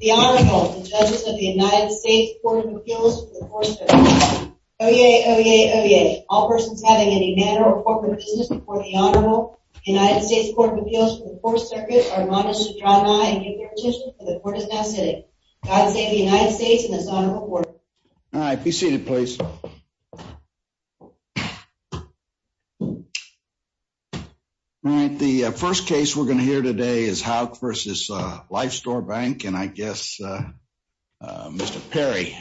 The Honorable and the Judges of the United States Court of Appeals for the Fourth Circuit. Oyez, oyez, oyez. All persons having any manner or corporate business before the Honorable United States Court of Appeals for the Fourth Circuit are admonished to draw nigh and give their petition, for the Court is now sitting. God save the United States and this Honorable Court. All right, be seated, please. All right, the first case we're going to hear today is Houck v. LifeStore Bank, and I guess Mr. Perry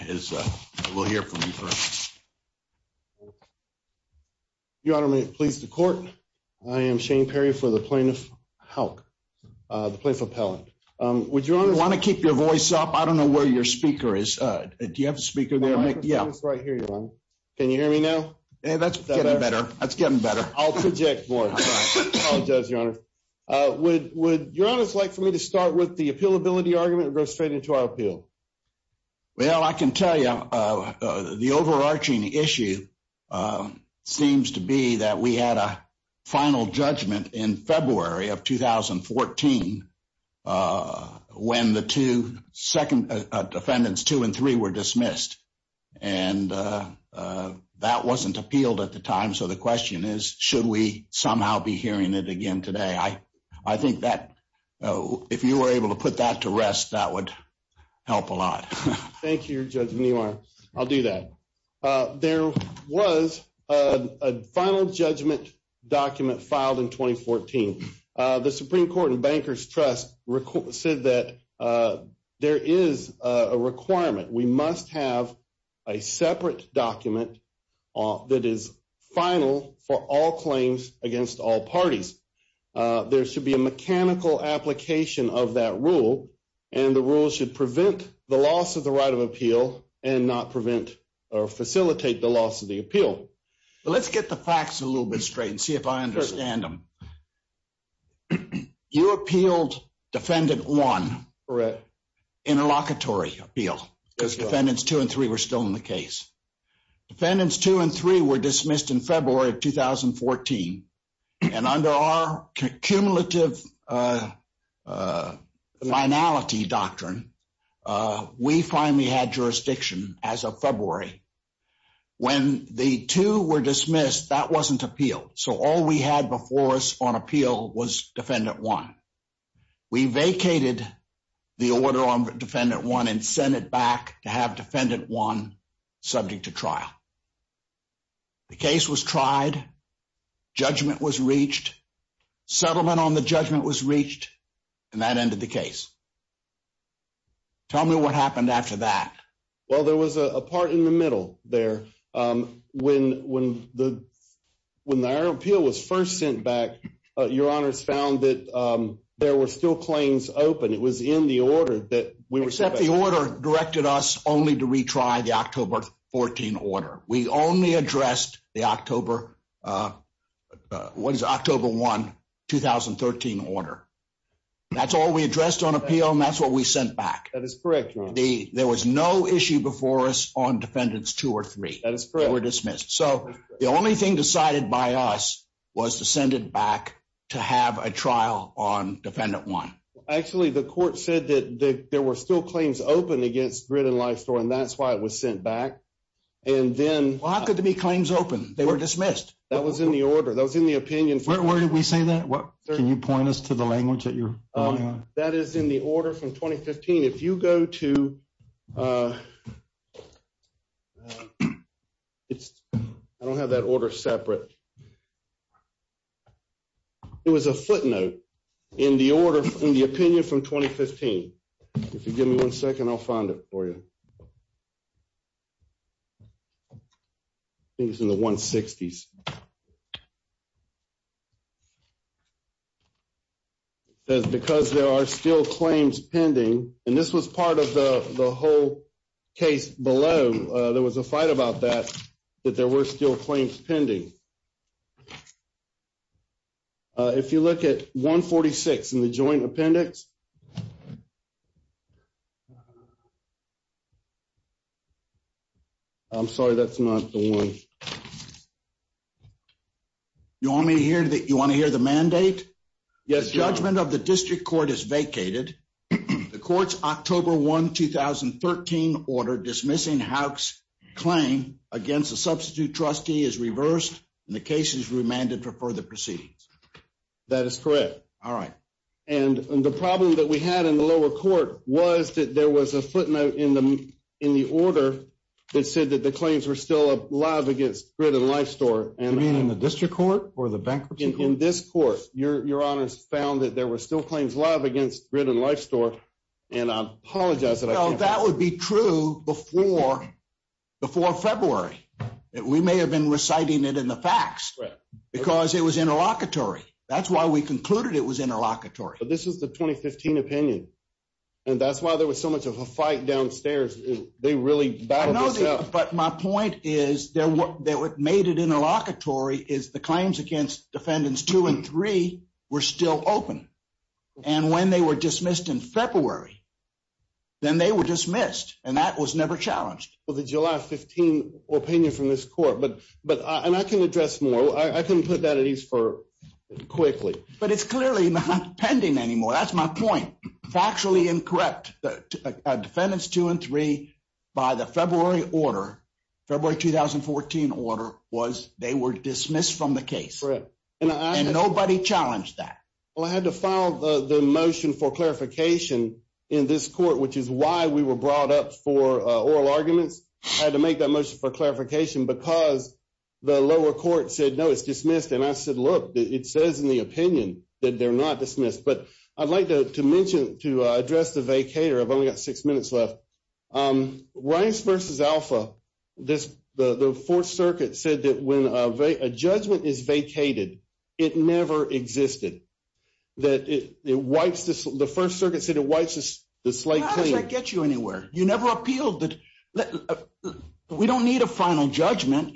will hear from you first. Your Honor, may it please the Court, I am Shane Perry for the plaintiff, Houck, the plaintiff appellant. Would Your Honor want to keep your voice up? I don't know where your speaker is. Do you have a speaker there? I have a speaker right here, Your Honor. Can you hear me now? That's getting better. That's getting better. I'll project more. I apologize, Your Honor. Would Your Honor like for me to start with the appealability argument and go straight into our appeal? Well, I can tell you the overarching issue seems to be that we had a final judgment in 2014. Defendants two and three were dismissed, and that wasn't appealed at the time. So the question is, should we somehow be hearing it again today? I think that if you were able to put that to rest, that would help a lot. Thank you, Your Honor. I'll do that. There was a final judgment document filed in 2014. The Supreme Court and Bankers Trust said that there is a requirement. We must have a separate document that is final for all claims against all parties. There should be a mechanical application of that rule, and the rule should prevent the loss of the right of appeal and not prevent or facilitate the loss of the appeal. Let's get the facts a little bit straight and see if I understand them. You appealed Defendant 1 for an interlocutory appeal because Defendants 2 and 3 were still in the case. Defendants 2 and 3 were dismissed in February of 2014, and under our cumulative finality doctrine, we finally had jurisdiction as of February. When the two were dismissed, that wasn't appealed. So all we had before us on appeal was Defendant 1. We vacated the order on Defendant 1 and sent it back to have Defendant 1 subject to trial. The case was Tell me what happened after that. Well, there was a part in the middle there. When our appeal was first sent back, Your Honors found that there were still claims open. It was in the order that we were sent back to. Except the order directed us only to retry the October 14 order. We only addressed the October 1, 2013 order. That's all we addressed on appeal, and that's what we sent back. That is correct, Your Honor. There was no issue before us on Defendants 2 or 3. That is correct. They were dismissed. So the only thing decided by us was to send it back to have a trial on Defendant 1. Actually, the court said that there were still claims open against Grid and Lifestore, and that's why it was sent back. And then Well, how could there be claims open? They were dismissed. That was in the order. That was in the opinion. Where did we say that? Can you point us to the language that you're referring to? That is in the order from 2015. If you go to I don't have that order separate. It was a footnote in the opinion from 2015. If you give me one second, I'll find it for you. I think it's in the 160s. It says, Because there are still claims pending. And this was part of the whole case below. There was a fight about that, that there were still claims pending. If you look at 146 in the joint appendix I'm sorry, that's not the one. You want me to hear that? You want to hear the mandate? Yes. Judgment of the district court is vacated. The court's October 1, 2013 order dismissing Houck's claim against a substitute trustee is reversed. And the case is remanded for further proceedings. And the problem with that is, The problem that we had in the lower court was that there was a footnote in the order that said that the claims were still live against Grit and Lifestore. You mean in the district court or the bankruptcy court? In this court, your honors found that there were still claims live against Grit and Lifestore. And I apologize that I can't- No, that would be true before February. We may have been reciting it in the facts. Because it was interlocutory. That's why we concluded it was interlocutory. But this is the 2015 opinion. And that's why there was so much of a fight downstairs. They really battled this out. But my point is that what made it interlocutory is the claims against defendants 2 and 3 were still open. And when they were dismissed in February, then they were dismissed. And that was never challenged. Well, the July 15 opinion from this court, but I can address more. I can put that at ease for quickly. But it's clearly not pending anymore. That's my point. Factually incorrect. Defendants 2 and 3, by the February order, February 2014 order, they were dismissed from the case. And nobody challenged that. Well, I had to file the motion for clarification in this court, which is why we were brought up for oral arguments. I had to make that motion for clarification because the lower court said, no, it's dismissed. And I said, look, it says in the opinion that they're not dismissed. But I'd like to mention, to address the vacator. I've only got six minutes left. Rice v. Alpha, the Fourth Circuit said that when a judgment is vacated, it never existed. The First Circuit said it wipes the slate clean. How does that get you anywhere? You never appealed. We don't need a final judgment.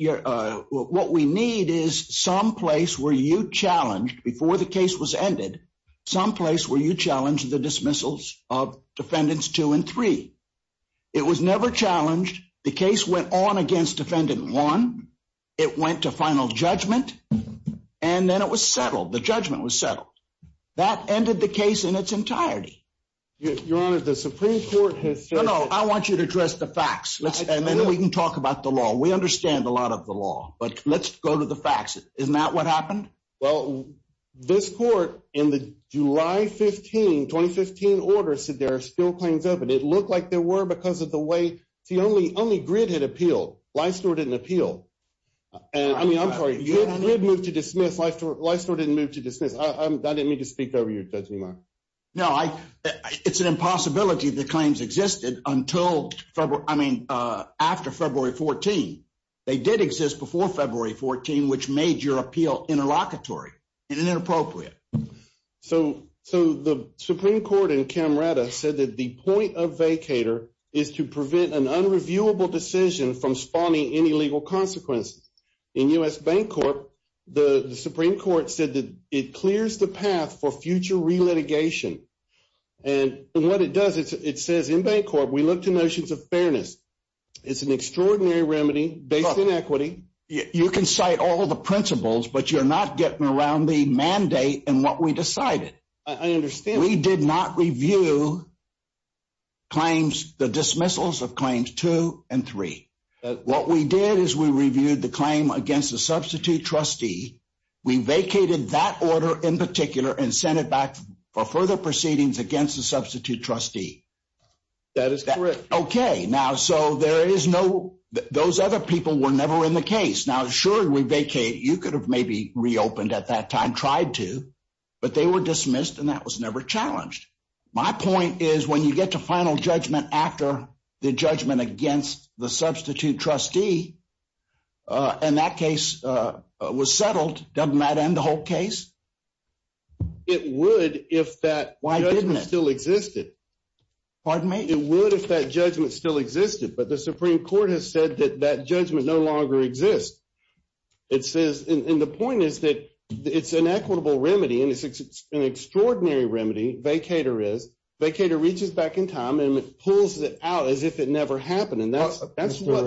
What we need is some place where you challenged, before the case was ended, some place where you challenged the dismissals of defendants 2 and 3. It was never challenged. The case went on against defendant 1. It went to final judgment. And then it was settled. The judgment was settled. That ended the case in its entirety. Your Honor, the Supreme Court has said. No, no, I want you to address the facts. And then we can talk about the law. We understand a lot of the law. But let's go to the facts. Isn't that what happened? Well, this court, in the July 15, 2015 order, said there are still claims open. It looked like there were because of the way. See, only Grid had appealed. Livestore didn't appeal. I mean, I'm sorry. Grid moved to dismiss. Livestore didn't move to dismiss. I didn't mean to speak over you, Judge Nimoy. No, it's an impossibility that claims existed until, I mean, after February 14. They did exist before February 14, which made your appeal interlocutory and inappropriate. So the Supreme Court in Camerata said that the point of vacator is to prevent an unreviewable decision from spawning any legal consequences. In U.S. Bancorp, the Supreme Court said that it clears the path for future relitigation. And what it does, it says in Bancorp, we look to notions of fairness. It's an extraordinary remedy based in equity. You can cite all of the principles, but you're not getting around the mandate and what we decided. I understand. We did not review claims, the dismissals of claims two and three. What we did is we reviewed the claim against the substitute trustee. We vacated that order in particular and sent it back for further proceedings against the substitute trustee. That is correct. Okay. Now, so there is no, those other people were never in the case. Now, sure, we vacate. You could have maybe reopened at that time, tried to, but they were dismissed and that was never challenged. My point is when you get to final judgment after the judgment against the substitute trustee and that case was settled, doesn't that end the whole case? It would if that judgment still existed. Pardon me? It would if that judgment still existed, but the Supreme Court has said that that judgment no longer exists. It says, and the point is that it's an equitable remedy and it's an extraordinary remedy. Vacator is, vacator reaches back in time and pulls it out as if it never happened. And that's what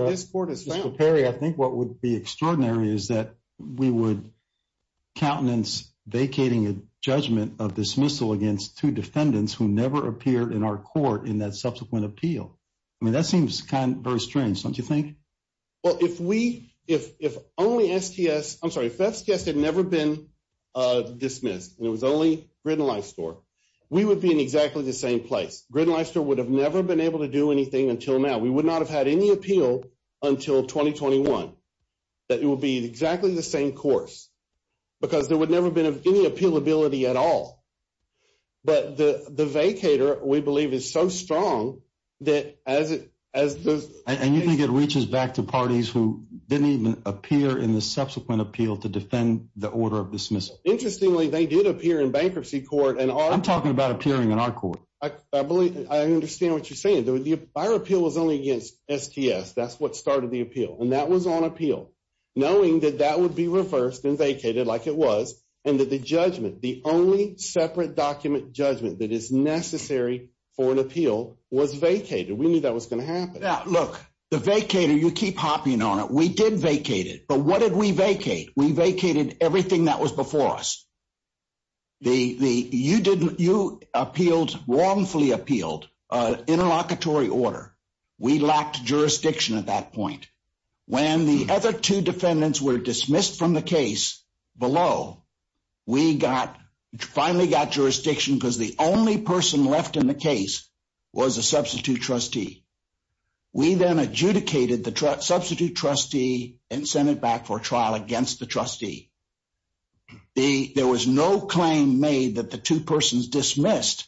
this court has found. Mr. Perry, I think what would be extraordinary is that we would countenance vacating a judgment of dismissal against two defendants who never appeared in our court in that subsequent appeal. I mean, that seems kind of very strange, don't you think? Well, if we, if only STS, I'm sorry, if STS had never been dismissed and it was only Grinnell Life Store, we would be in exactly the same place. Grinnell Life Store would have never been able to do anything until now. We would not have had any appeal until 2021. That it would be exactly the same course because there would never have been any appealability at all. But the vacator, we believe, is so strong that as it, as the… And you think it reaches back to parties who didn't even appear in the subsequent appeal to defend the order of dismissal? Interestingly, they did appear in bankruptcy court and our… I'm talking about appearing in our court. I believe, I understand what you're saying. Our appeal was only against STS. That's what started the appeal. And that was on appeal. Knowing that that would be reversed and vacated like it was and that the judgment, the only separate document judgment that is necessary for an appeal was vacated. We knew that was going to happen. Look, the vacator, you keep hopping on it. We did vacate it. But what did we vacate? We vacated everything that was before us. You appealed, wrongfully appealed, an interlocutory order. We lacked jurisdiction at that point. When the other two defendants were dismissed from the case below, we finally got jurisdiction because the only person left in the case was a substitute trustee. We then adjudicated the substitute trustee and sent it back for trial against the trustee. There was no claim made that the two persons dismissed,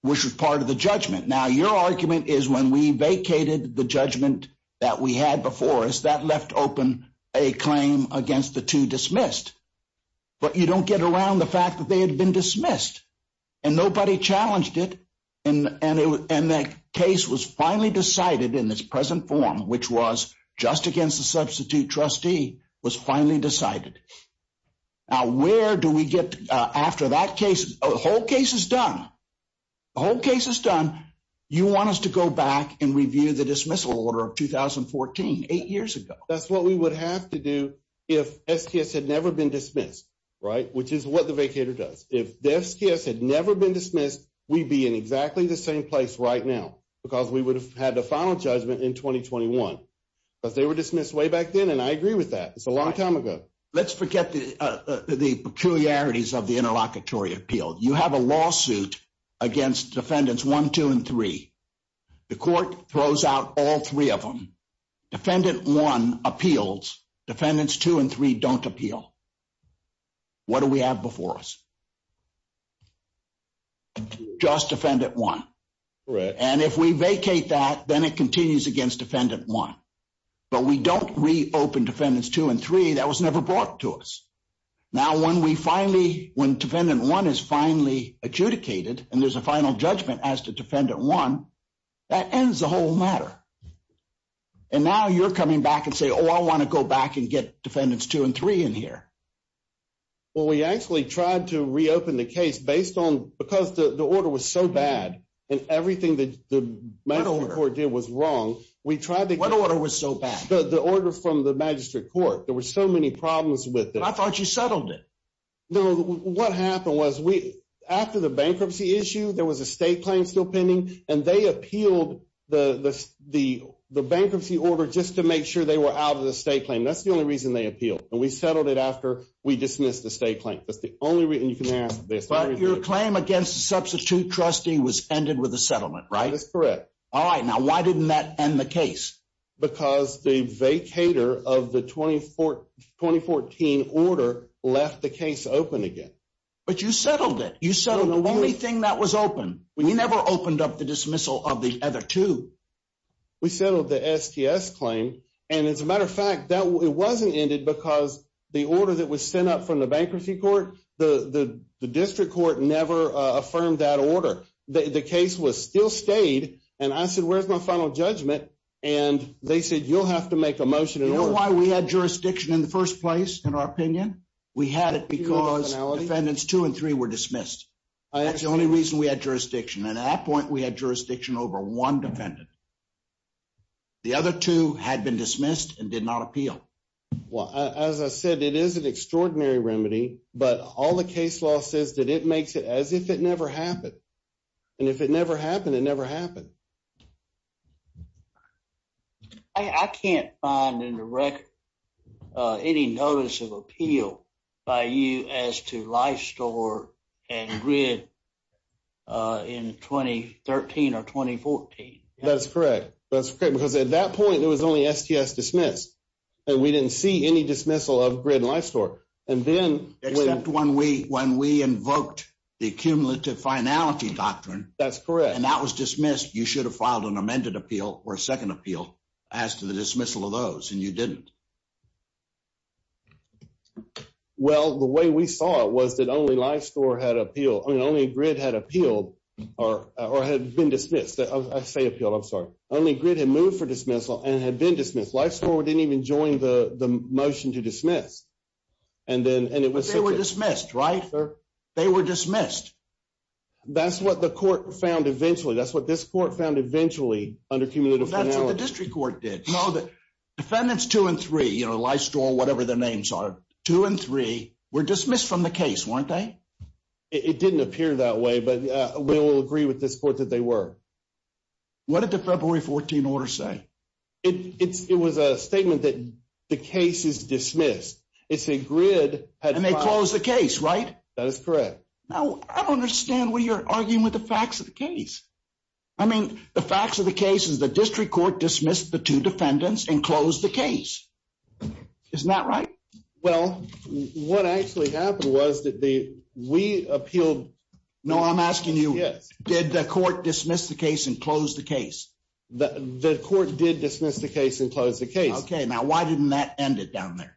which was part of the judgment. Now, your argument is when we vacated the judgment that we had before us, that left open a claim against the two dismissed. But you don't get around the fact that they had been dismissed. And nobody challenged it. And that case was finally decided in its present form, which was just against the substitute trustee, was finally decided. Now, where do we get after that case? The whole case is done. The whole case is done. You want us to go back and review the dismissal order of 2014, eight years ago. That's what we would have to do if SDS had never been dismissed, right, which is what the vacator does. If this case had never been dismissed, we'd be in exactly the same place right now because we would have had the final judgment in 2021. But they were dismissed way back then, and I agree with that. It's a long time ago. Let's forget the peculiarities of the interlocutory appeal. You have a lawsuit against defendants one, two, and three. The court throws out all three of them. Defendant one appeals. Defendants two and three don't appeal. What do we have before us? Just defendant one. And if we vacate that, then it continues against defendant one. But we don't reopen defendants two and three. That was never brought to us. Now, when defendant one is finally adjudicated and there's a final judgment as to defendant one, that ends the whole matter. And now you're coming back and saying, oh, I want to go back and get defendants two and three in here. Well, we actually tried to reopen the case based on because the order was so bad and everything that the magistrate court did was wrong. What order was so bad? The order from the magistrate court. There were so many problems with it. I thought you settled it. No. What happened was after the bankruptcy issue, there was a state claim still pending, and they appealed the bankruptcy order just to make sure they were out of the state claim. That's the only reason they appealed. And we settled it after we dismissed the state claim. That's the only reason you can ask. But your claim against the substitute trustee was ended with a settlement, right? That's correct. All right. Now, why didn't that end the case? Because the vacator of the 2014 order left the case open again. But you settled it. You settled the only thing that was open. We never opened up the dismissal of the other two. We settled the STS claim. And as a matter of fact, it wasn't ended because the order that was sent up from the bankruptcy court, the district court never affirmed that order. The case was still stayed. And I said, where's my final judgment? And they said, you'll have to make a motion in order. Do you know why we had jurisdiction in the first place in our opinion? We had it because defendants two and three were dismissed. That's the only reason we had jurisdiction. And at that point, we had jurisdiction over one defendant. The other two had been dismissed and did not appeal. Well, as I said, it is an extraordinary remedy. But all the case law says that it makes it as if it never happened. And if it never happened, it never happened. I can't find in the record any notice of appeal by you as to life store and grid in 2013 or 2014. That's correct. Because at that point, it was only STS dismissed. And we didn't see any dismissal of grid and life store. Except when we invoked the cumulative finality doctrine. That's correct. And that was dismissed. You should have filed an amended appeal or a second appeal as to the dismissal of those. And you didn't. Well, the way we saw it was that only life store had appealed. I mean, only grid had appealed or had been dismissed. I say appealed. I'm sorry. Only grid had moved for dismissal and had been dismissed. Life store didn't even join the motion to dismiss. They were dismissed, right? They were dismissed. That's what the court found eventually. That's what this court found eventually under cumulative finality. That's what the district court did. Defendants two and three, life store, whatever their names are, two and three were dismissed from the case, weren't they? It didn't appear that way. But we will agree with this court that they were. What did the February 14 order say? It was a statement that the case is dismissed. It said grid had filed. And they closed the case, right? That is correct. Now, I don't understand what you're arguing with the facts of the case. I mean, the facts of the case is the district court dismissed the two defendants and closed the case. Isn't that right? Well, what actually happened was that we appealed. No, I'm asking you, did the court dismiss the case and close the case? The court did dismiss the case and close the case. Okay. Now, why didn't that end it down there?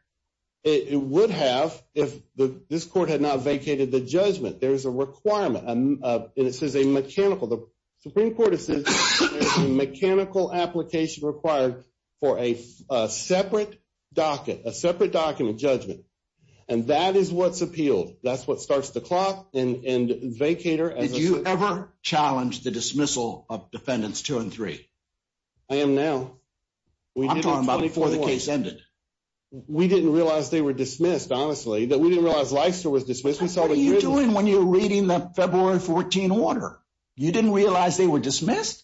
It would have if this court had not vacated the judgment. There is a requirement, and it says a mechanical. The Supreme Court has said there's a mechanical application required for a separate docket, a separate docket of judgment. And that is what's appealed. That's what starts the clock and vacator. Did you ever challenge the dismissal of defendants two and three? I am now. I'm talking about before the case ended. We didn't realize they were dismissed, honestly. We didn't realize Leister was dismissed. What are you doing when you're reading the February 14 order? You didn't realize they were dismissed?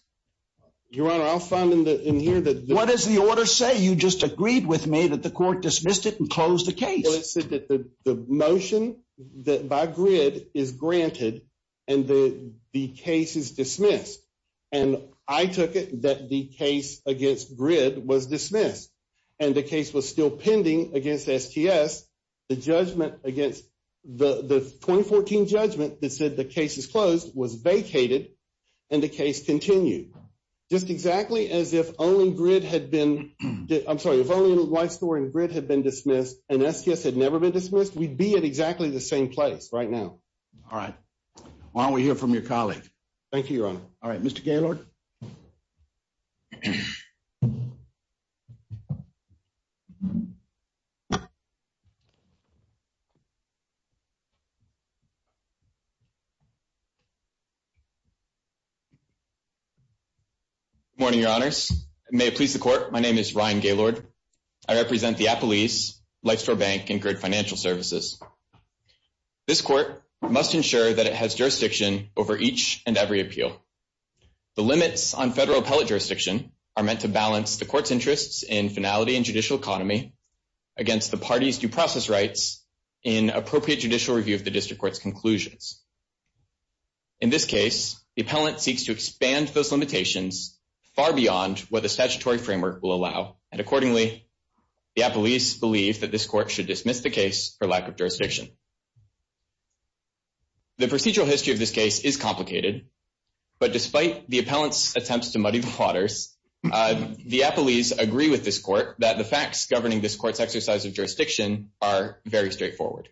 Your Honor, I'll find in here that the— What does the order say? You just agreed with me that the court dismissed it and closed the case. Well, it said that the motion by GRID is granted and the case is dismissed. And I took it that the case against GRID was dismissed. And the case was still pending against STS. The judgment against—the 2014 judgment that said the case is closed was vacated, and the case continued. Just exactly as if only GRID had been—I'm sorry. If only Leister and GRID had been dismissed and STS had never been dismissed, we'd be at exactly the same place right now. All right. Why don't we hear from your colleague? Thank you, Your Honor. All right. Mr. Gaylord? Good morning, Your Honors. May it please the Court, my name is Ryan Gaylord. I represent the appellees, Leister Bank, and GRID Financial Services. This court must ensure that it has jurisdiction over each and every appeal. The limits on federal appellate jurisdiction are meant to balance the court's interests in finality and judicial economy against the party's due process rights in appropriate judicial review of the district court's conclusions. In this case, the appellant seeks to expand those limitations far beyond what the statutory framework will allow, and accordingly, the appellees believe that this court should dismiss the case for lack of jurisdiction. The procedural history of this case is complicated, but despite the appellant's attempts to muddy the waters, the appellees agree with this court that the facts governing this court's exercise of jurisdiction are very straightforward.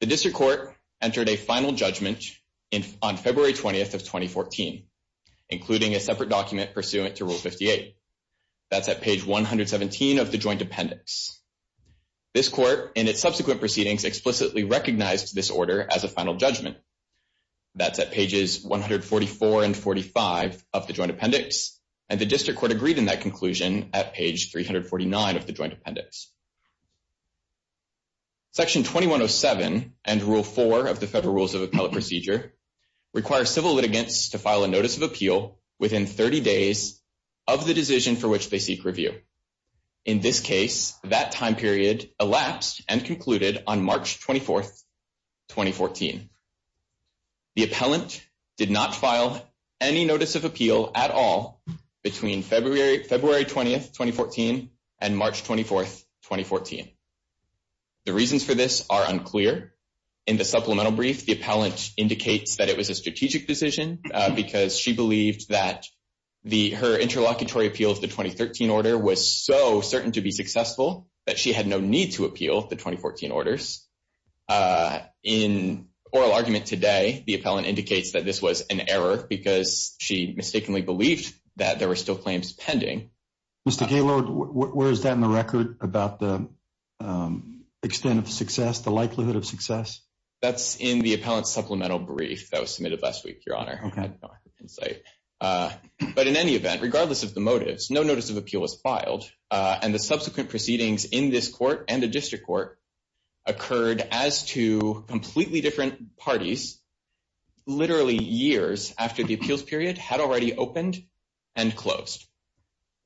The district court entered a final judgment on February 20th of 2014, including a separate document pursuant to Rule 58. That's at page 117 of the joint appendix. This court, in its subsequent proceedings, explicitly recognized this order as a final judgment. That's at pages 144 and 45 of the joint appendix, and the district court agreed in that conclusion at page 349 of the joint appendix. Section 2107 and Rule 4 of the Federal Rules of Appellate Procedure require civil litigants to file a notice of appeal within 30 days of the decision for which they seek review. In this case, that time period elapsed and concluded on March 24th, 2014. The appellant did not file any notice of appeal at all between February 20th, 2014 and March 24th, 2014. The reasons for this are unclear. In the supplemental brief, the appellant indicates that it was a strategic decision because she believed that her interlocutory appeal of the 2013 order was so certain to be successful that she had no need to appeal the 2014 orders. In oral argument today, the appellant indicates that this was an error because she mistakenly believed that there were still claims pending. Mr. Gaylord, where is that in the record about the extent of success, the likelihood of success? That's in the appellant's supplemental brief that was submitted last week, Your Honor. Okay. But in any event, regardless of the motives, no notice of appeal was filed, and the subsequent proceedings in this court and the district court occurred as two completely different parties literally years after the appeals period had already opened and closed.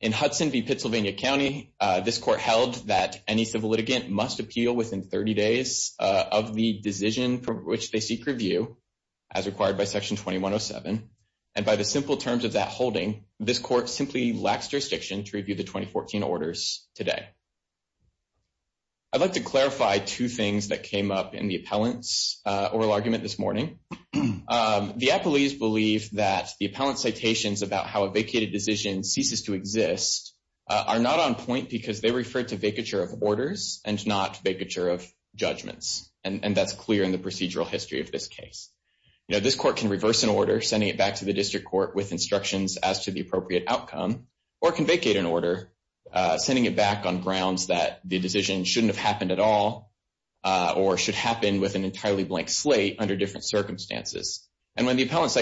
In Hudson v. Pennsylvania County, this court held that any civil litigant must appeal within 30 days of the decision for which they seek review as required by Section 2107, and by the simple terms of that holding, this court simply lacks jurisdiction to review the 2014 orders today. I'd like to clarify two things that came up in the appellant's oral argument this morning. The appellees believe that the appellant's citations about how a vacated decision ceases to exist are not on point because they refer to vacature of orders and not vacature of judgments, and that's clear in the procedural history of this case. This court can reverse an order, sending it back to the district court with instructions as to the appropriate outcome, or it can vacate an order, sending it back on grounds that the decision shouldn't have happened at all or should happen with an entirely blank slate under different circumstances. And when the appellant's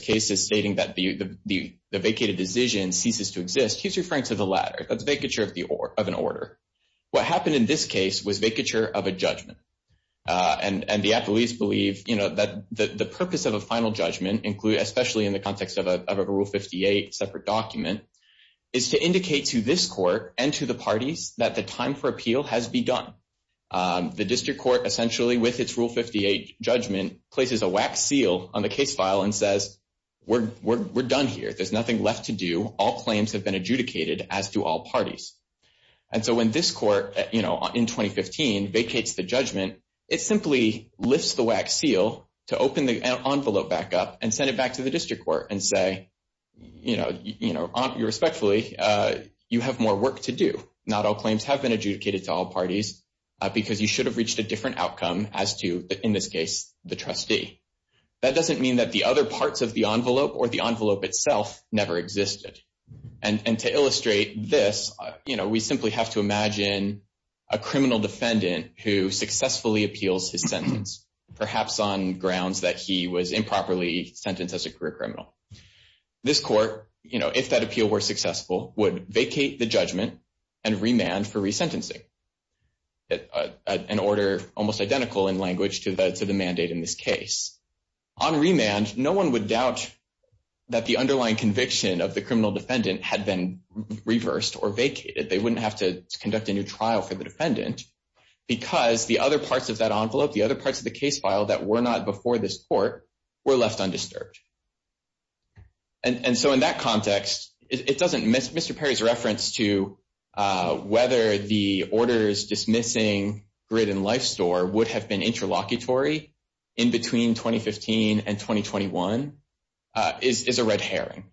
case is stating that the vacated decision ceases to exist, he's referring to the latter. That's vacature of an order. What happened in this case was vacature of a judgment, and the appellees believe that the purpose of a final judgment, especially in the context of a Rule 58 separate document, is to indicate to this court and to the parties that the time for appeal has begun. The district court essentially, with its Rule 58 judgment, places a wax seal on the case file and says, we're done here. There's nothing left to do. All claims have been adjudicated, as do all parties. And so when this court, you know, in 2015 vacates the judgment, it simply lifts the wax seal to open the envelope back up and send it back to the district court and say, you know, respectfully, you have more work to do. Not all claims have been adjudicated to all parties because you should have reached a different outcome as to, in this case, the trustee. That doesn't mean that the other parts of the envelope or the envelope itself never existed. And to illustrate this, you know, we simply have to imagine a criminal defendant who successfully appeals his sentence, perhaps on grounds that he was improperly sentenced as a career criminal. This court, you know, if that appeal were successful, would vacate the judgment and remand for resentencing, an order almost identical in language to the mandate in this case. On remand, no one would doubt that the underlying conviction of the criminal defendant had been reversed or vacated. They wouldn't have to conduct a new trial for the defendant because the other parts of that envelope, the other parts of the case file that were not before this court were left undisturbed. And so in that context, it doesn't miss Mr. Perry's reference to whether the orders dismissing GRID and Life Store would have been interlocutory in between 2015 and 2021 is a red herring,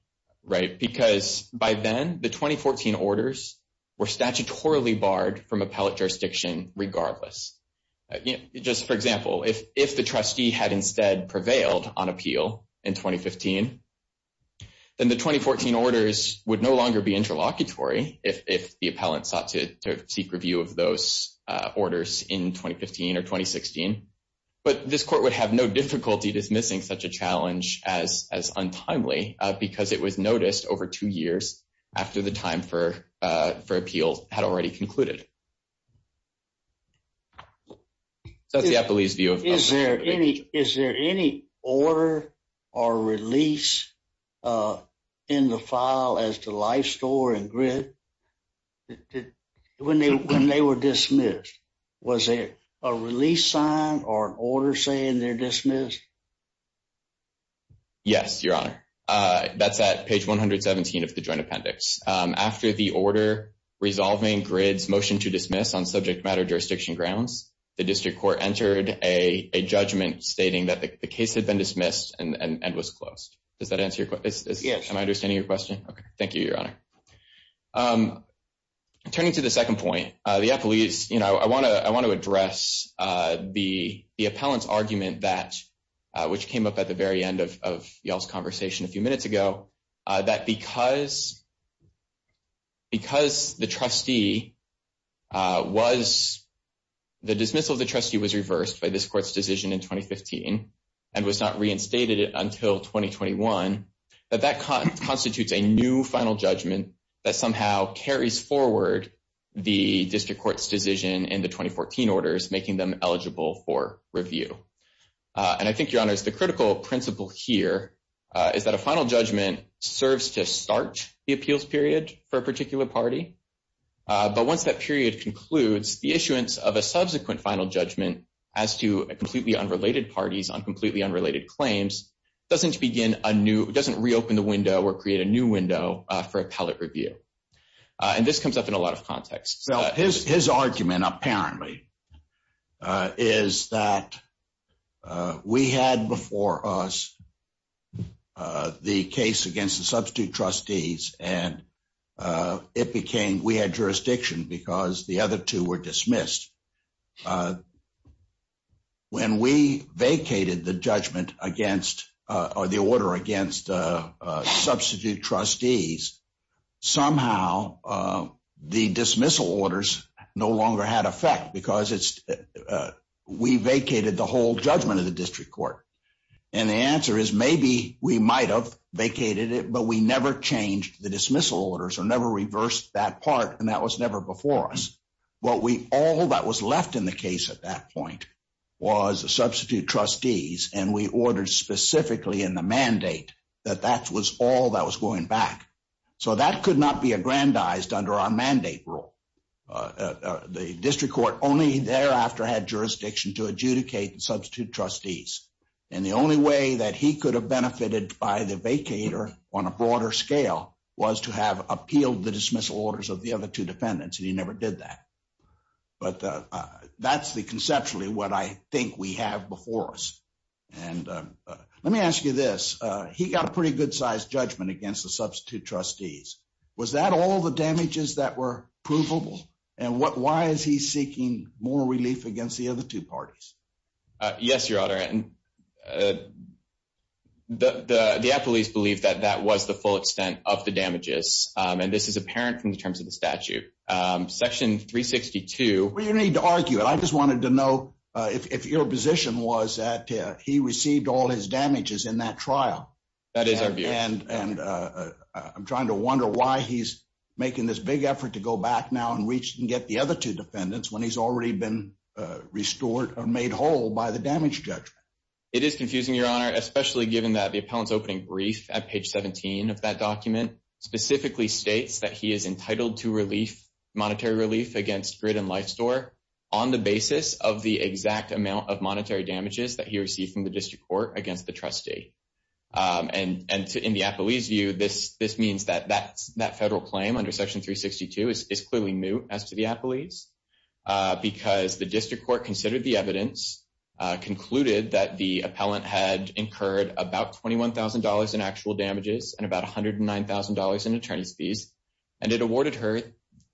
right? Because by then, the 2014 orders were statutorily barred from appellate jurisdiction regardless. Just for example, if the trustee had instead prevailed on appeal in 2015, then the 2014 orders would no longer be interlocutory if the appellant sought to seek review of those orders in 2015 or 2016. But this court would have no difficulty dismissing such a challenge as untimely because it was noticed over two years after the time for appeal had already concluded. So that's the appellee's view. Is there any order or release in the file as to Life Store and GRID when they were dismissed? Was there a release sign or an order saying they're dismissed? Yes, Your Honor. That's at page 117 of the joint appendix. After the order resolving GRID's motion to dismiss on subject matter jurisdiction grounds, the district court entered a judgment stating that the case had been dismissed and was closed. Does that answer your question? Yes. Am I understanding your question? Okay. Thank you, Your Honor. Turning to the second point, I want to address the appellant's argument that, which came up at the very end of Yael's conversation a few minutes ago, that because the dismissal of the trustee was reversed by this court's decision in 2015 and was not reinstated until 2021, that that constitutes a new final judgment that somehow carries forward the district court's decision in the 2014 orders, making them eligible for review. And I think, Your Honor, the critical principle here is that a final judgment serves to start the appeals period for a particular party. But once that period concludes, the issuance of a subsequent final judgment as to completely unrelated parties on completely unrelated claims doesn't reopen the window or create a new window for appellate review. And this comes up in a lot of contexts. His argument, apparently, is that we had before us the case against the substitute trustees, and we had jurisdiction because the other two were dismissed. When we vacated the judgment against or the order against substitute trustees, somehow the dismissal orders no longer had effect because we vacated the whole judgment of the district court. And the answer is maybe we might have vacated it, but we never changed the dismissal orders or never reversed that part. And that was never before us. All that was left in the case at that point was the substitute trustees, and we ordered specifically in the mandate that that was all that was going back. So that could not be aggrandized under our mandate rule. The district court only thereafter had jurisdiction to adjudicate substitute trustees. And the only way that he could have benefited by the vacator on a broader scale was to have appealed the dismissal orders of the other two defendants, and he never did that. But that's the conceptually what I think we have before us. And let me ask you this. He got a pretty good-sized judgment against the substitute trustees. Was that all the damages that were provable? And why is he seeking more relief against the other two parties? Yes, Your Honor. The affiliates believe that that was the full extent of the damages, and this is apparent in terms of the statute. Section 362. We don't need to argue it. I just wanted to know if your position was that he received all his damages in that trial. That is our view. And I'm trying to wonder why he's making this big effort to go back now and reach and get the other two defendants when he's already been restored or made whole by the damage judgment. It is confusing, Your Honor, especially given that the appellant's opening brief at page 17 of that document specifically states that he is entitled to monetary relief against grid and life store on the basis of the exact amount of monetary damages that he received from the district court against the trustee. And in the affiliate's view, this means that that federal claim under Section 362 is clearly new as to the affiliates because the district court considered the evidence, concluded that the appellant had incurred about $21,000 in actual damages and about $109,000 in attorney's fees, and it awarded her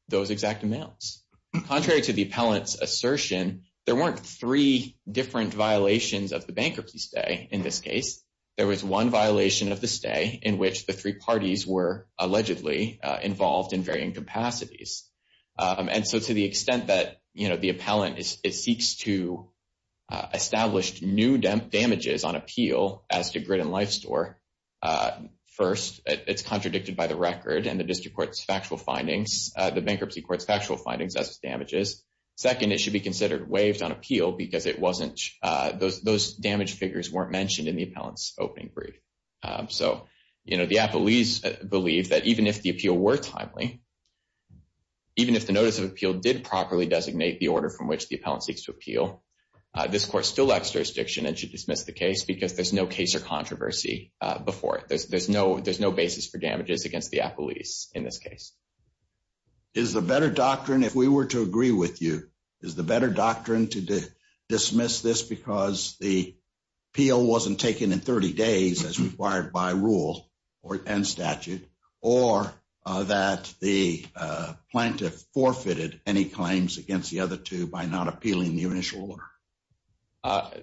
those exact amounts. Contrary to the appellant's assertion, there weren't three different violations of the bankruptcy stay in this case. There was one violation of the stay in which the three parties were allegedly involved in varying capacities. And so to the extent that the appellant seeks to establish new damages on appeal as to grid and life store, first, it's contradicted by the record and the district court's factual findings, the bankruptcy court's factual findings as to damages. Second, it should be considered waived on appeal because it wasn't, those damage figures weren't mentioned in the appellant's opening brief. So, you know, the appellees believe that even if the appeal were timely, even if the notice of appeal did properly designate the order from which the appellant seeks to appeal, this court still lacks jurisdiction and should dismiss the case because there's no case or controversy before it. There's no basis for damages against the appellees in this case. Is the better doctrine, if we were to agree with you, is the better doctrine to dismiss this because the appeal wasn't taken in 30 days as required by rule and statute, or that the plaintiff forfeited any claims against the other two by not appealing the initial order?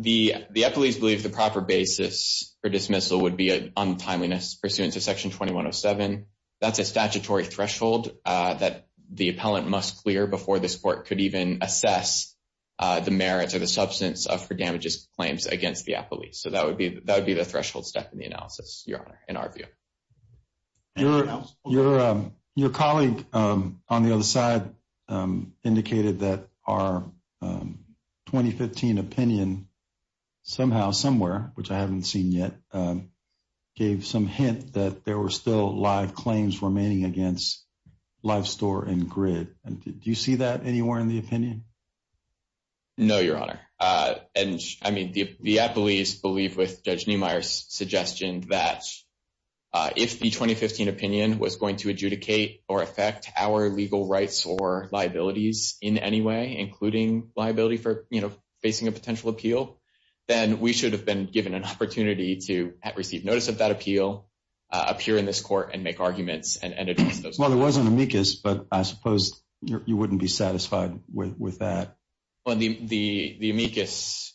The appellees believe the proper basis for dismissal would be an untimeliness pursuant to section 2107. That's a statutory threshold that the appellant must clear before this court could even assess the merits or the substance of, for damages claims against the appellees. So that would be, that would be the threshold step in the analysis, your honor, in our view. Your colleague on the other side indicated that our 2015 opinion somehow, somewhere, which I haven't seen yet, gave some hint that there were still live claims remaining against Lifestore and Grid. Do you see that anywhere in the opinion? No, your honor. I mean, the appellees believe with Judge Neumeier's suggestion that if the 2015 opinion was going to adjudicate or affect our legal rights or liabilities in any way, including liability for, you know, facing a potential appeal, then we should have been given an opportunity to receive notice of that appeal, appear in this court, and make arguments. Well, there was an amicus, but I suppose you wouldn't be satisfied with that. Well, the amicus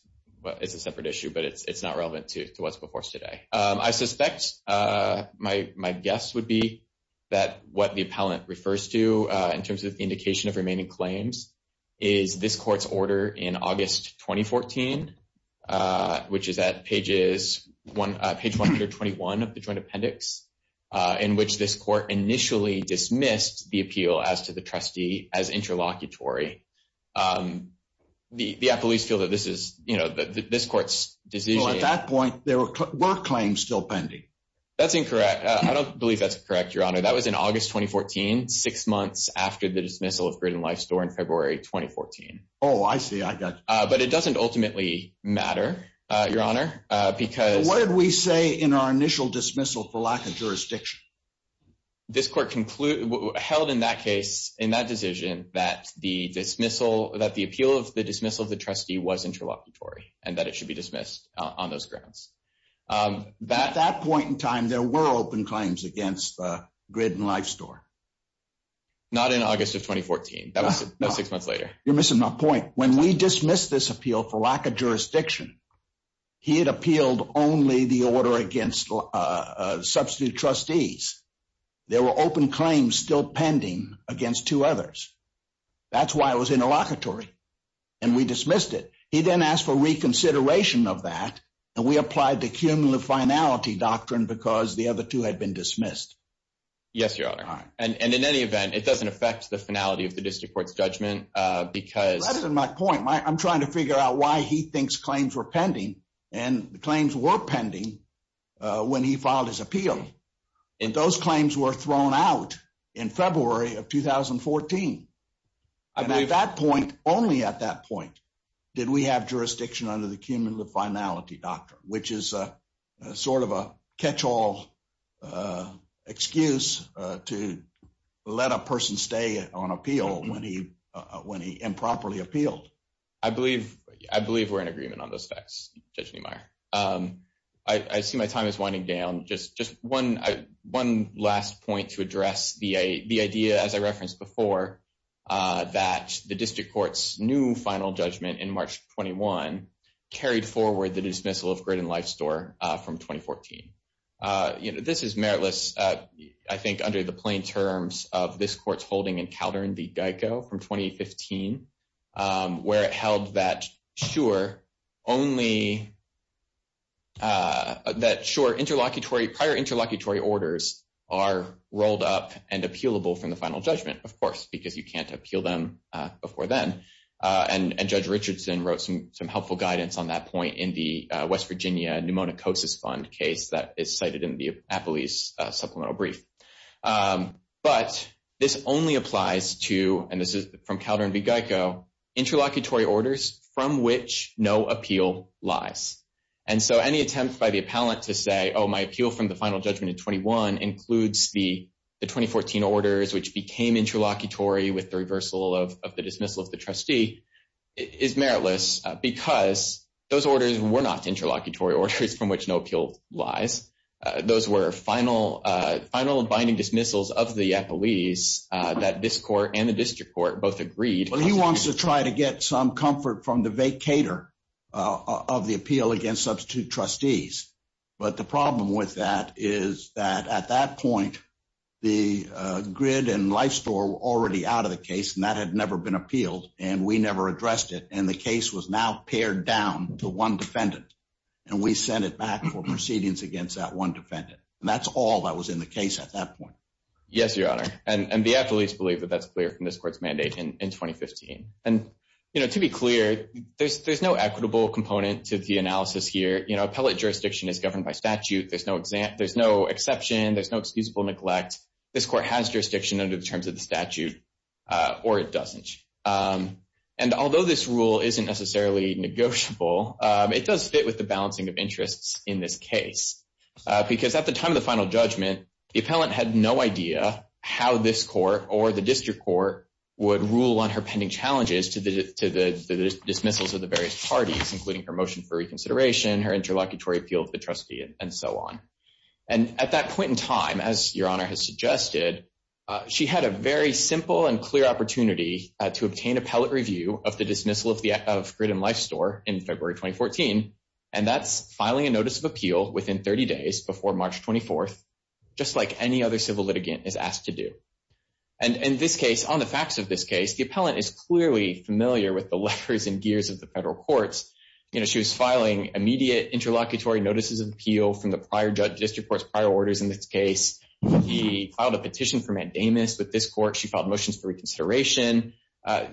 is a separate issue, but it's not relevant to what's before us today. I suspect my guess would be that what the appellant refers to in terms of indication of remaining claims is this court's order in August 2014, which is at page 121 of the joint appendix, in which this court initially dismissed the appeal as to the trustee as the appellees feel that this is, you know, this court's decision. At that point, there were claims still pending. That's incorrect. I don't believe that's correct, your honor. That was in August, 2014, six months after the dismissal of Grid and Lifestore in February, 2014. Oh, I see. I got you. But it doesn't ultimately matter, your honor, because. What did we say in our initial dismissal for lack of jurisdiction? This court held in that case, in that decision, that the appeal of the dismissal of the trustee was interlocutory and that it should be dismissed on those grounds. At that point in time, there were open claims against Grid and Lifestore. Not in August of 2014. That was six months later. You're missing my point. When we dismissed this appeal for lack of jurisdiction, he had appealed only the order against substitute trustees. There were open claims still pending against two others. That's why it was interlocutory. And we dismissed it. He then asked for reconsideration of that. And we applied the cumulative finality doctrine because the other two had been dismissed. Yes, your honor. And in any event, it doesn't affect the finality of the district court's judgment because. Well, that isn't my point. I'm trying to figure out why he thinks claims were pending. And the claims were pending when he filed his appeal. And those claims were thrown out in February of 2014. And at that point, only at that point, did we have jurisdiction under the cumulative finality doctrine, which is sort of a catch-all excuse to let a person stay on appeal when he improperly appealed. I believe we're in agreement on those facts, Judge Niemeyer. I see my time is winding down. Just one last point to address the idea, as I referenced before, that the district court's new final judgment in March 21 carried forward the dismissal of Grid and Life Store from 2014. This is meritless, I think, under the plain terms of this court's holding in Caldern v. Geico from 2015, where it held that, sure, prior interlocutory orders are rolled up and appealable from the final judgment, of course, because you can't appeal them before then. And Judge Richardson wrote some helpful guidance on that point in the West Virginia Pneumonicosis Fund case that is cited in the Appellee's Supplemental Brief. But this only applies to, and this is from Caldern v. Geico, interlocutory orders from which no appeal lies. And so any attempt by the appellant to say, oh, my appeal from the final judgment in 21 includes the 2014 orders, which became interlocutory with the reversal of the dismissal of the trustee, is meritless, because those orders were not interlocutory orders from which no appeal lies. Those were final binding dismissals of the appellees that this court and the district court both agreed. Well, he wants to try to get some comfort from the vacator of the appeal against substitute trustees. But the problem with that is that at that point, the grid and life store were already out of the case, and that had never been appealed, and we never addressed it. And the case was now pared down to one defendant, and we sent it back for proceedings against that one defendant. And that's all that was in the case at that point. Yes, Your Honor, and the appellees believe that that's clear from this court's mandate in 2015. And, you know, to be clear, there's no equitable component to the analysis here. You know, appellate jurisdiction is governed by statute. There's no exception. There's no excusable neglect. This court has jurisdiction under the terms of the statute, or it doesn't. And although this rule isn't necessarily negotiable, it does fit with the balancing of interests in this case, because at the time of the final judgment, the appellant had no idea how this court or the district court would rule on her pending challenges to the dismissals of the various parties, including her motion for reconsideration, her interlocutory appeal to the trustee, and so on. And at that point in time, as Your Honor has suggested, she had a very simple and clear opportunity to obtain appellate review of the dismissal of Grid and Life Store in February 2014, and that's filing a notice of appeal within 30 days before March 24th, just like any other civil litigant is asked to do. And in this case, on the facts of this case, the appellant is clearly familiar with the letters and gears of the federal courts. You know, she was filing immediate interlocutory notices of appeal from the district court's prior orders in this case. She filed a petition for mandamus with this court. She filed motions for reconsideration.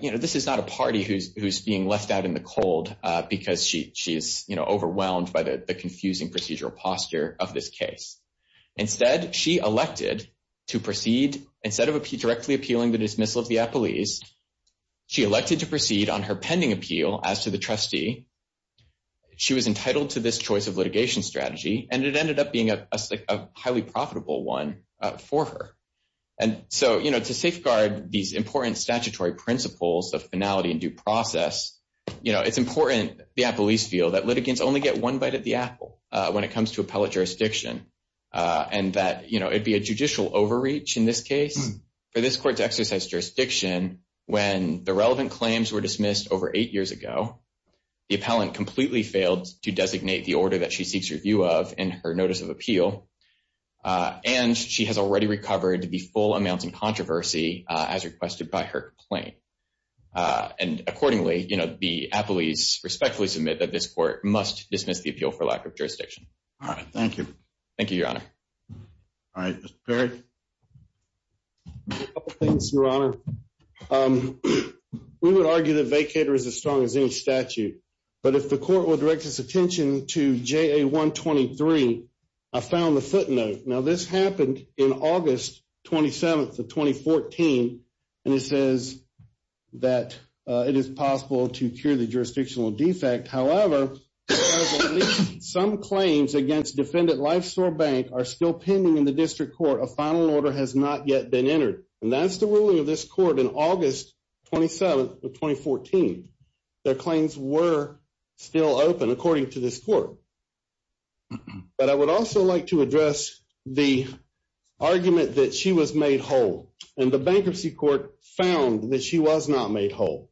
You know, this is not a party who's being left out in the cold because she is, you know, overwhelmed by the confusing procedural posture of this case. Instead, she elected to proceed, instead of directly appealing the dismissal of the appellees, she elected to proceed on her pending appeal as to the trustee. She was entitled to this choice of litigation strategy, and it ended up being a highly profitable one for her. And so, you know, to safeguard these important statutory principles of finality and due process, you know, it's important the appellees feel that litigants only get one bite of the apple when it comes to appellate jurisdiction, and that, you know, it'd be a judicial overreach in this case for this court to exercise jurisdiction when the relevant claims were dismissed over eight years ago, the appellant completely failed to designate the order that she seeks review of in her notice of appeal, and she has already recovered the full amounts in controversy as requested by her complaint. And accordingly, you know, the appellees respectfully submit that this court must dismiss the appeal for lack of jurisdiction. All right. Thank you. Thank you, Your Honor. All right. Mr. Perry? A couple things, Your Honor. We would argue that vacater is as strong as any statute, but if the court would direct its attention to JA 123, I found the footnote. Now, this happened in August 27th of 2014, and it says that it is possible to cure the jurisdictional defect. However, some claims against Defendant Lifesore Bank are still pending in the district court. A final order has not yet been entered, and that's the ruling of this court in August 27th of 2014. Their claims were still open, according to this court. But I would also like to address the argument that she was made whole, and the bankruptcy court found that she was not made whole.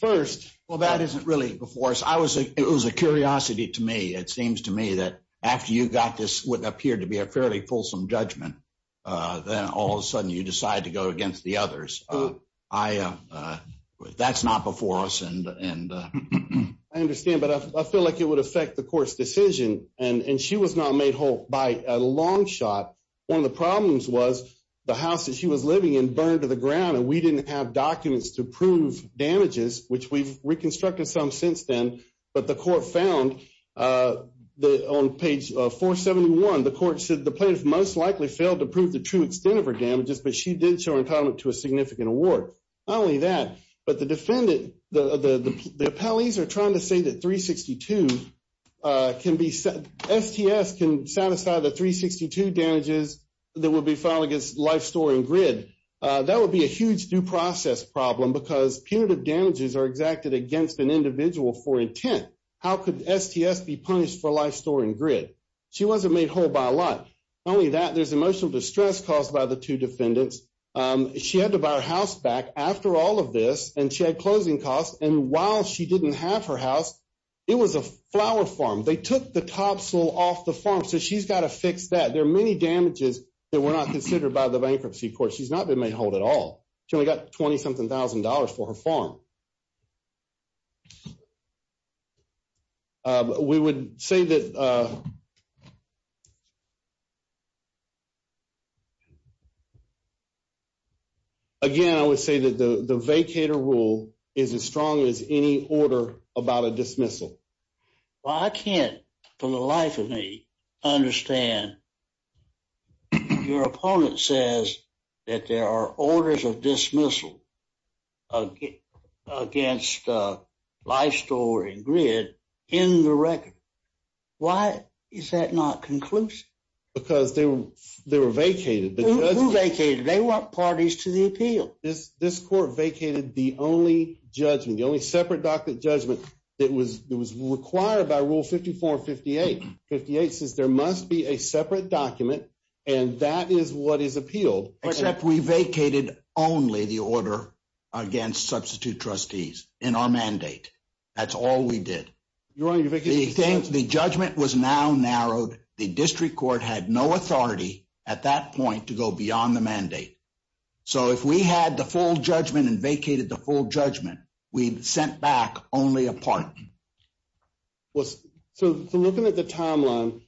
First, Well, that isn't really before us. It was a curiosity to me. It seems to me that after you got this what appeared to be a fairly fulsome judgment, then all of a sudden you decide to go against the others. That's not before us. I understand, but I feel like it would affect the court's decision, and she was not made whole by a long shot. One of the problems was the house that she was living in burned to the ground, and we didn't have documents to prove damages, which we've reconstructed some since then. But the court found that on page 471, the court said the plaintiff most likely failed to prove the true extent of her damages, but she did show entitlement to a significant award. Not only that, but the defendant, the appellees are trying to say that STS can set aside the 362 damages that would be filed against Lifestore and Grid. That would be a huge due process problem because punitive damages are exacted against an individual for intent. How could STS be punished for Lifestore and Grid? She wasn't made whole by a lot. Not only that, there's emotional distress caused by the two defendants. She had to buy her house back after all of this, and she had closing costs, and while she didn't have her house, it was a flower farm. They took the topsoil off the farm, so she's got to fix that. There are many damages that were not considered by the bankruptcy court. She's not been made whole at all. She only got $20-something thousand for her farm. Again, I would say that the vacator rule is as strong as any order about a dismissal. Well, I can't for the life of me understand your opponent says that there are orders of dismissal against Lifestore and Grid in the record. Why is that not conclusive? Because they were vacated. Who vacated? They weren't parties to the appeal. This court vacated the only separate judgment that was required by Rule 54 and 58. Rule 58 says there must be a separate document, and that is what is appealed. Except we vacated only the order against substitute trustees in our mandate. That's all we did. The judgment was now narrowed. The district court had no authority at that point to go beyond the mandate. So, if we had the full judgment and vacated the full judgment, we sent back only a part. So, looking at the timeline...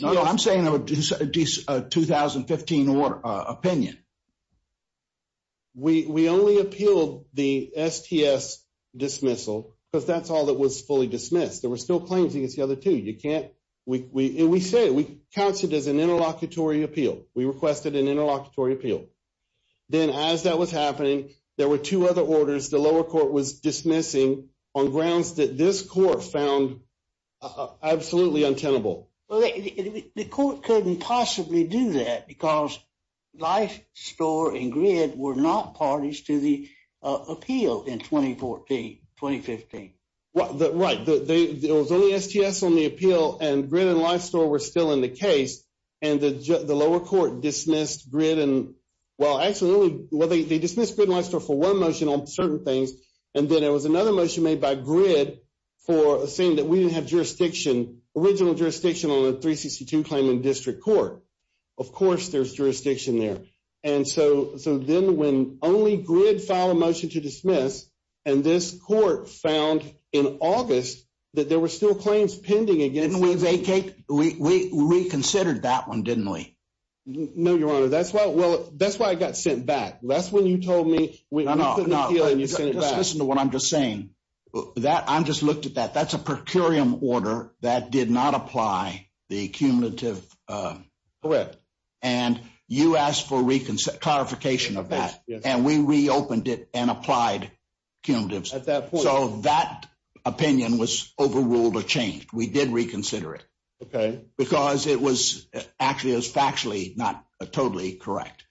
No, no, I'm saying a 2015 opinion. We only appealed the STS dismissal because that's all that was fully dismissed. There were still claims against the other two. You can't... We said, we counted it as an interlocutory appeal. We requested an interlocutory appeal. Then, as that was happening, there were two other orders the lower court was dismissing on grounds that this court found absolutely untenable. Well, the court couldn't possibly do that because LifeStore and GRID were not parties to the appeal in 2014, 2015. Right. It was only STS on the appeal, and GRID and LifeStore were still in the case. The lower court dismissed GRID and... Well, actually, they dismissed GRID and LifeStore for one motion on certain things, and then there was another motion made by GRID saying that we didn't have jurisdiction, original jurisdiction on the 362 claim in district court. Of course, there's jurisdiction there. And so, then when only GRID filed a motion to dismiss, and this court found in August that there were still claims pending against... Didn't we vacate? We reconsidered that one, didn't we? No, Your Honor. That's why I got sent back. That's when you told me... No, no. Just listen to what I'm just saying. I just looked at that. That's a per curiam order that did not apply the accumulative... Correct. And you asked for clarification of that, and we reopened it and applied accumulatives. At that point... So, that opinion was overruled or changed. We did reconsider it. Okay. Because it was... Actually, it was factually not totally correct.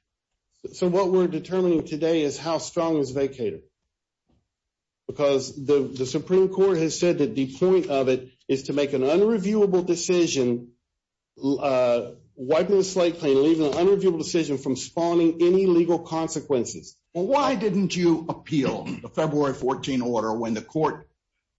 So, what we're determining today is how strong is vacator? Because the Supreme Court has said that the point of it is to make an unreviewable decision, wiping the slate clean, leaving an unreviewable decision from spawning any legal consequences. Well, why didn't you appeal the February 14 order when the court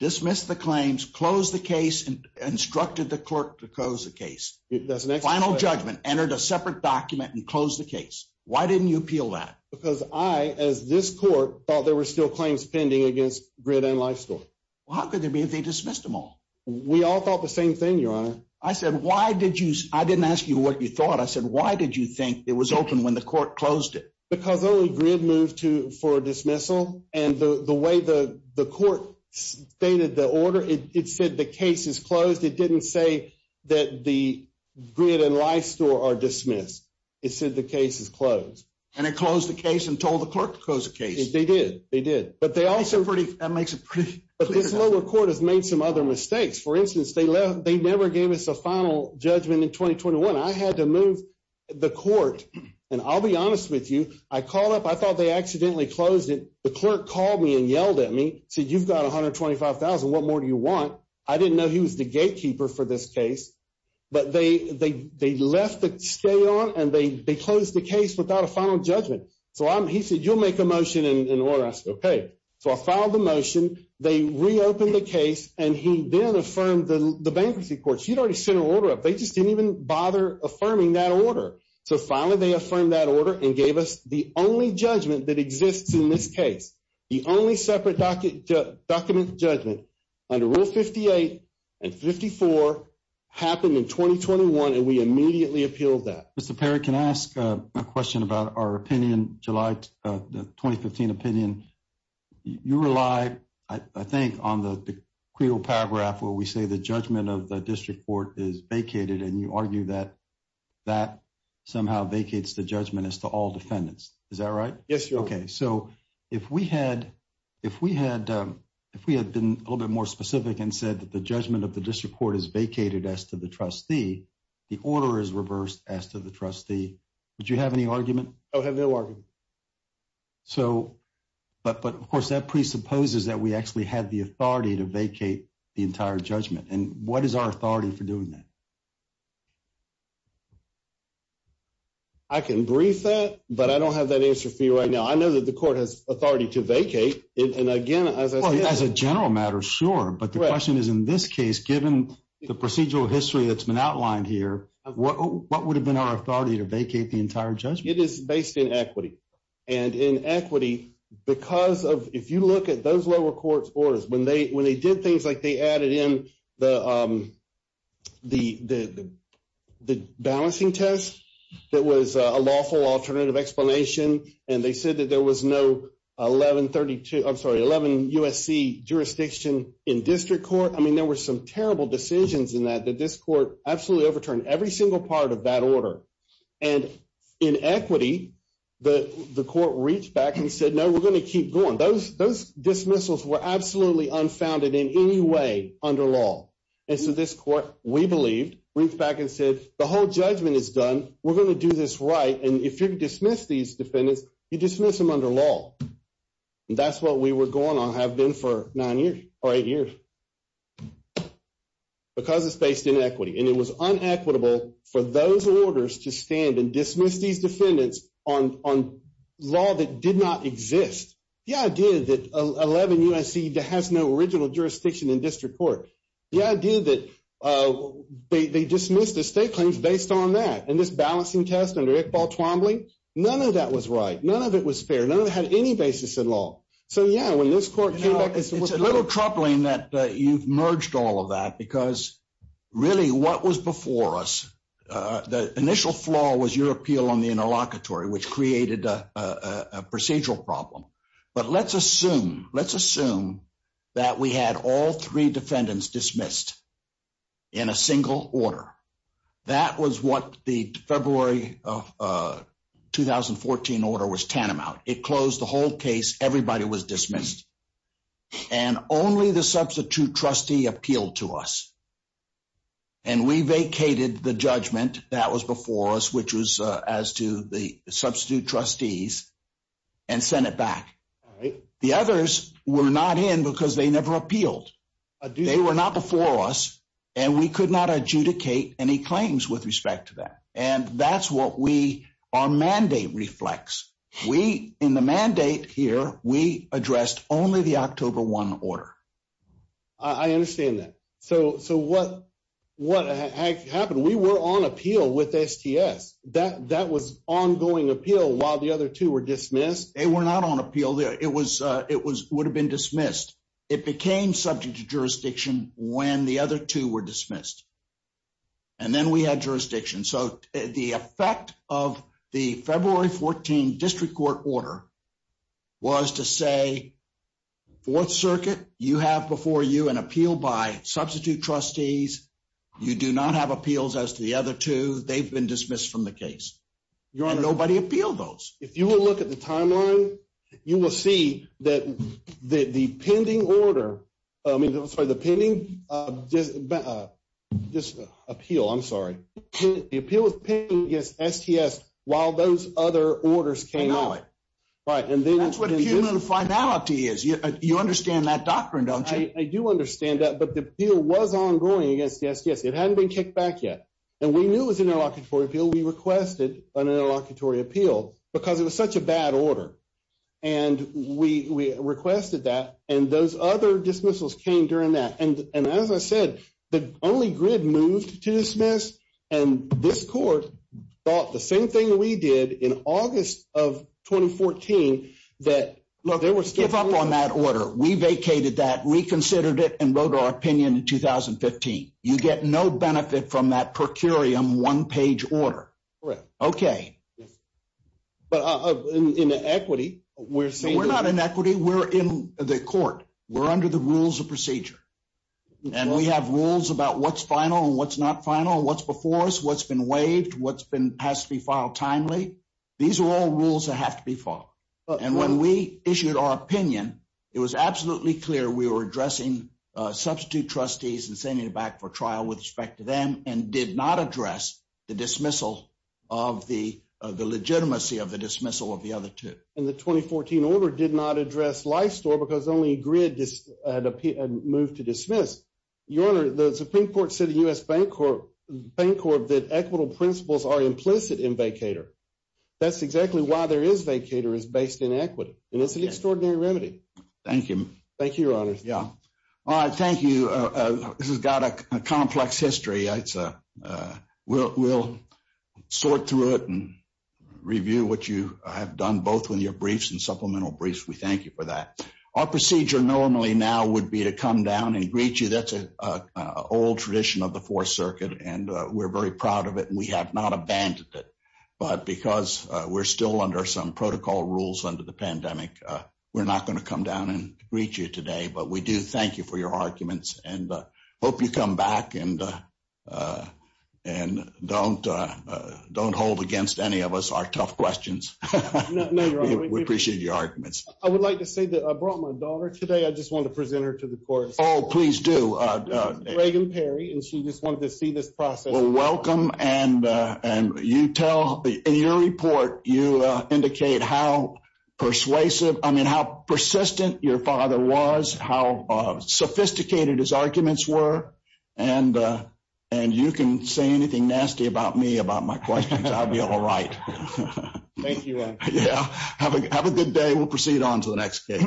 dismissed the claims, closed the case, and instructed the clerk to close the case? That's an excellent question. Final judgment, entered a separate document, and closed the case. Why didn't you appeal that? Because I, as this court, thought there were still claims pending against GRID and Lifestore. Well, how could there be if they dismissed them all? We all thought the same thing, Your Honor. I said, why did you... I didn't ask you what you thought. I said, why did you think it was open when the court closed it? Because only GRID moved for dismissal. And the way the court stated the order, it said the case is closed. It didn't say that the GRID and Lifestore are dismissed. It said the case is closed. And it closed the case and told the clerk to close the case. They did. They did. That makes it pretty clear. But this lower court has made some other mistakes. For instance, they never gave us a final judgment in 2021. I had to move the court, and I'll be honest with you. I called up. I thought they accidentally closed it. The clerk called me and yelled at me, said, you've got $125,000. What more do you want? I didn't know he was the gatekeeper for this case. But they left the stay on, and they closed the case without a final judgment. So he said, you'll make a motion and order. I said, okay. So I filed the motion. They reopened the case, and he then affirmed the bankruptcy court. He had already sent an order up. They just didn't even bother affirming that order. So finally, they affirmed that order and gave us the only judgment that exists in this case. The only separate document judgment under Rule 58 and 54 happened in 2021, and we immediately appealed that. Mr. Perry, can I ask a question about our opinion, July 2015 opinion? You rely, I think, on the credo paragraph where we say the judgment of the district court is vacated, and you argue that that somehow vacates the judgment as to all defendants. Is that right? Yes, Your Honor. Okay. So if we had been a little bit more specific and said that the judgment of the district court is vacated as to the trustee, the order is reversed as to the trustee. Would you have any argument? I would have no argument. But, of course, that presupposes that we actually had the authority to vacate the entire judgment. And what is our authority for doing that? I can brief that, but I don't have that answer for you right now. I know that the court has authority to vacate. And, again, as a general matter, sure. But the question is, in this case, given the procedural history that's been outlined here, what would have been our authority to vacate the entire judgment? It is based in equity. And in equity, because of – if you look at those lower court's orders, when they did things like they added in the balancing test that was a lawful alternative explanation and they said that there was no 1132 – I'm sorry, 11 USC jurisdiction in district court, I mean, there were some terrible decisions in that that this court absolutely overturned every single part of that order. And in equity, the court reached back and said, no, we're going to keep going. Those dismissals were absolutely unfounded in any way under law. And so this court, we believe, reached back and said, the whole judgment is done. We're going to do this right. And if you dismiss these defendants, you dismiss them under law. And that's what we were going on – have been for nine years or eight years. Because it's based in equity. And it was unequitable for those orders to stand and dismiss these defendants on law that did not exist. The idea that 11 USC has no original jurisdiction in district court, the idea that they dismissed the state claims based on that and this balancing test under Iqbal Twombly, none of that was right. None of it was fair. None of it had any basis in law. So, yeah, when this court came back – It's a little troubling that you've merged all of that because really what was before us, the initial flaw was your appeal on the interlocutory, which created a procedural problem. But let's assume – let's assume that we had all three defendants dismissed in a single order. That was what the February 2014 order was tantamount. It closed the whole case. Everybody was dismissed. And only the substitute trustee appealed to us. And we vacated the judgment that was before us, which was as to the substitute trustees, and sent it back. The others were not in because they never appealed. They were not before us. And we could not adjudicate any claims with respect to that. And that's what we – our mandate reflects. We – in the mandate here, we addressed only the October 1 order. I understand that. So, what happened? We were on appeal with STS. That was ongoing appeal while the other two were dismissed? They were not on appeal. It was – it would have been dismissed. It became subject to jurisdiction when the other two were dismissed. And then we had jurisdiction. So, the effect of the February 2014 district court order was to say, Fourth Circuit, you have before you an appeal by substitute trustees. You do not have appeals as to the other two. They've been dismissed from the case. And nobody appealed those. If you will look at the timeline, you will see that the pending order – I mean, I'm sorry, the pending – just appeal, I'm sorry. The appeal was pending against STS while those other orders came out. Right. That's what human finality is. You understand that doctrine, don't you? I do understand that. But the appeal was ongoing against STS. It hadn't been kicked back yet. And we knew it was an interlocutory appeal. We requested an interlocutory appeal because it was such a bad order. And we requested that. And those other dismissals came during that. And as I said, the only grid moved to dismiss. And this court thought the same thing we did in August of 2014 that there was still – Give up on that order. We vacated that, reconsidered it, and wrote our opinion in 2015. You get no benefit from that per curiam one-page order. Correct. Okay. But in the equity, we're saying – We're not in equity. We're in the court. We're under the rules of procedure. And we have rules about what's final and what's not final, what's before us, what's been waived, what's been – has to be filed timely. These are all rules that have to be followed. And when we issued our opinion, it was absolutely clear we were addressing substitute trustees and sending them back for trial with respect to them and did not address the dismissal of the legitimacy of the dismissal of the other two. And the 2014 order did not address life store because only grid had moved to dismiss. Your Honor, the Supreme Court said in U.S. Bancorp that equitable principles are implicit in vacator. That's exactly why there is vacator is based in equity, and it's an extraordinary remedy. Thank you. Thank you, Your Honor. Yeah. All right. Thank you. This has got a complex history. We'll sort through it and review what you have done both with your briefs and supplemental briefs. We thank you for that. Our procedure normally now would be to come down and greet you. That's an old tradition of the Fourth Circuit, and we're very proud of it, and we have not abandoned it. But because we're still under some protocol rules under the pandemic, we're not going to come down and greet you today. But we do thank you for your arguments and hope you come back and don't hold against any of us our tough questions. No, Your Honor. We appreciate your arguments. I would like to say that I brought my daughter today. I just wanted to present her to the court. Oh, please do. This is Reagan Perry, and she just wanted to see this process. Well, welcome, and you tell – in your report, you indicate how persuasive – I mean, how persistent your father was, how sophisticated his arguments were, and you can say anything nasty about me about my questions. I'll be all right. Thank you, Your Honor. Yeah. Have a good day. We'll proceed on to the next case.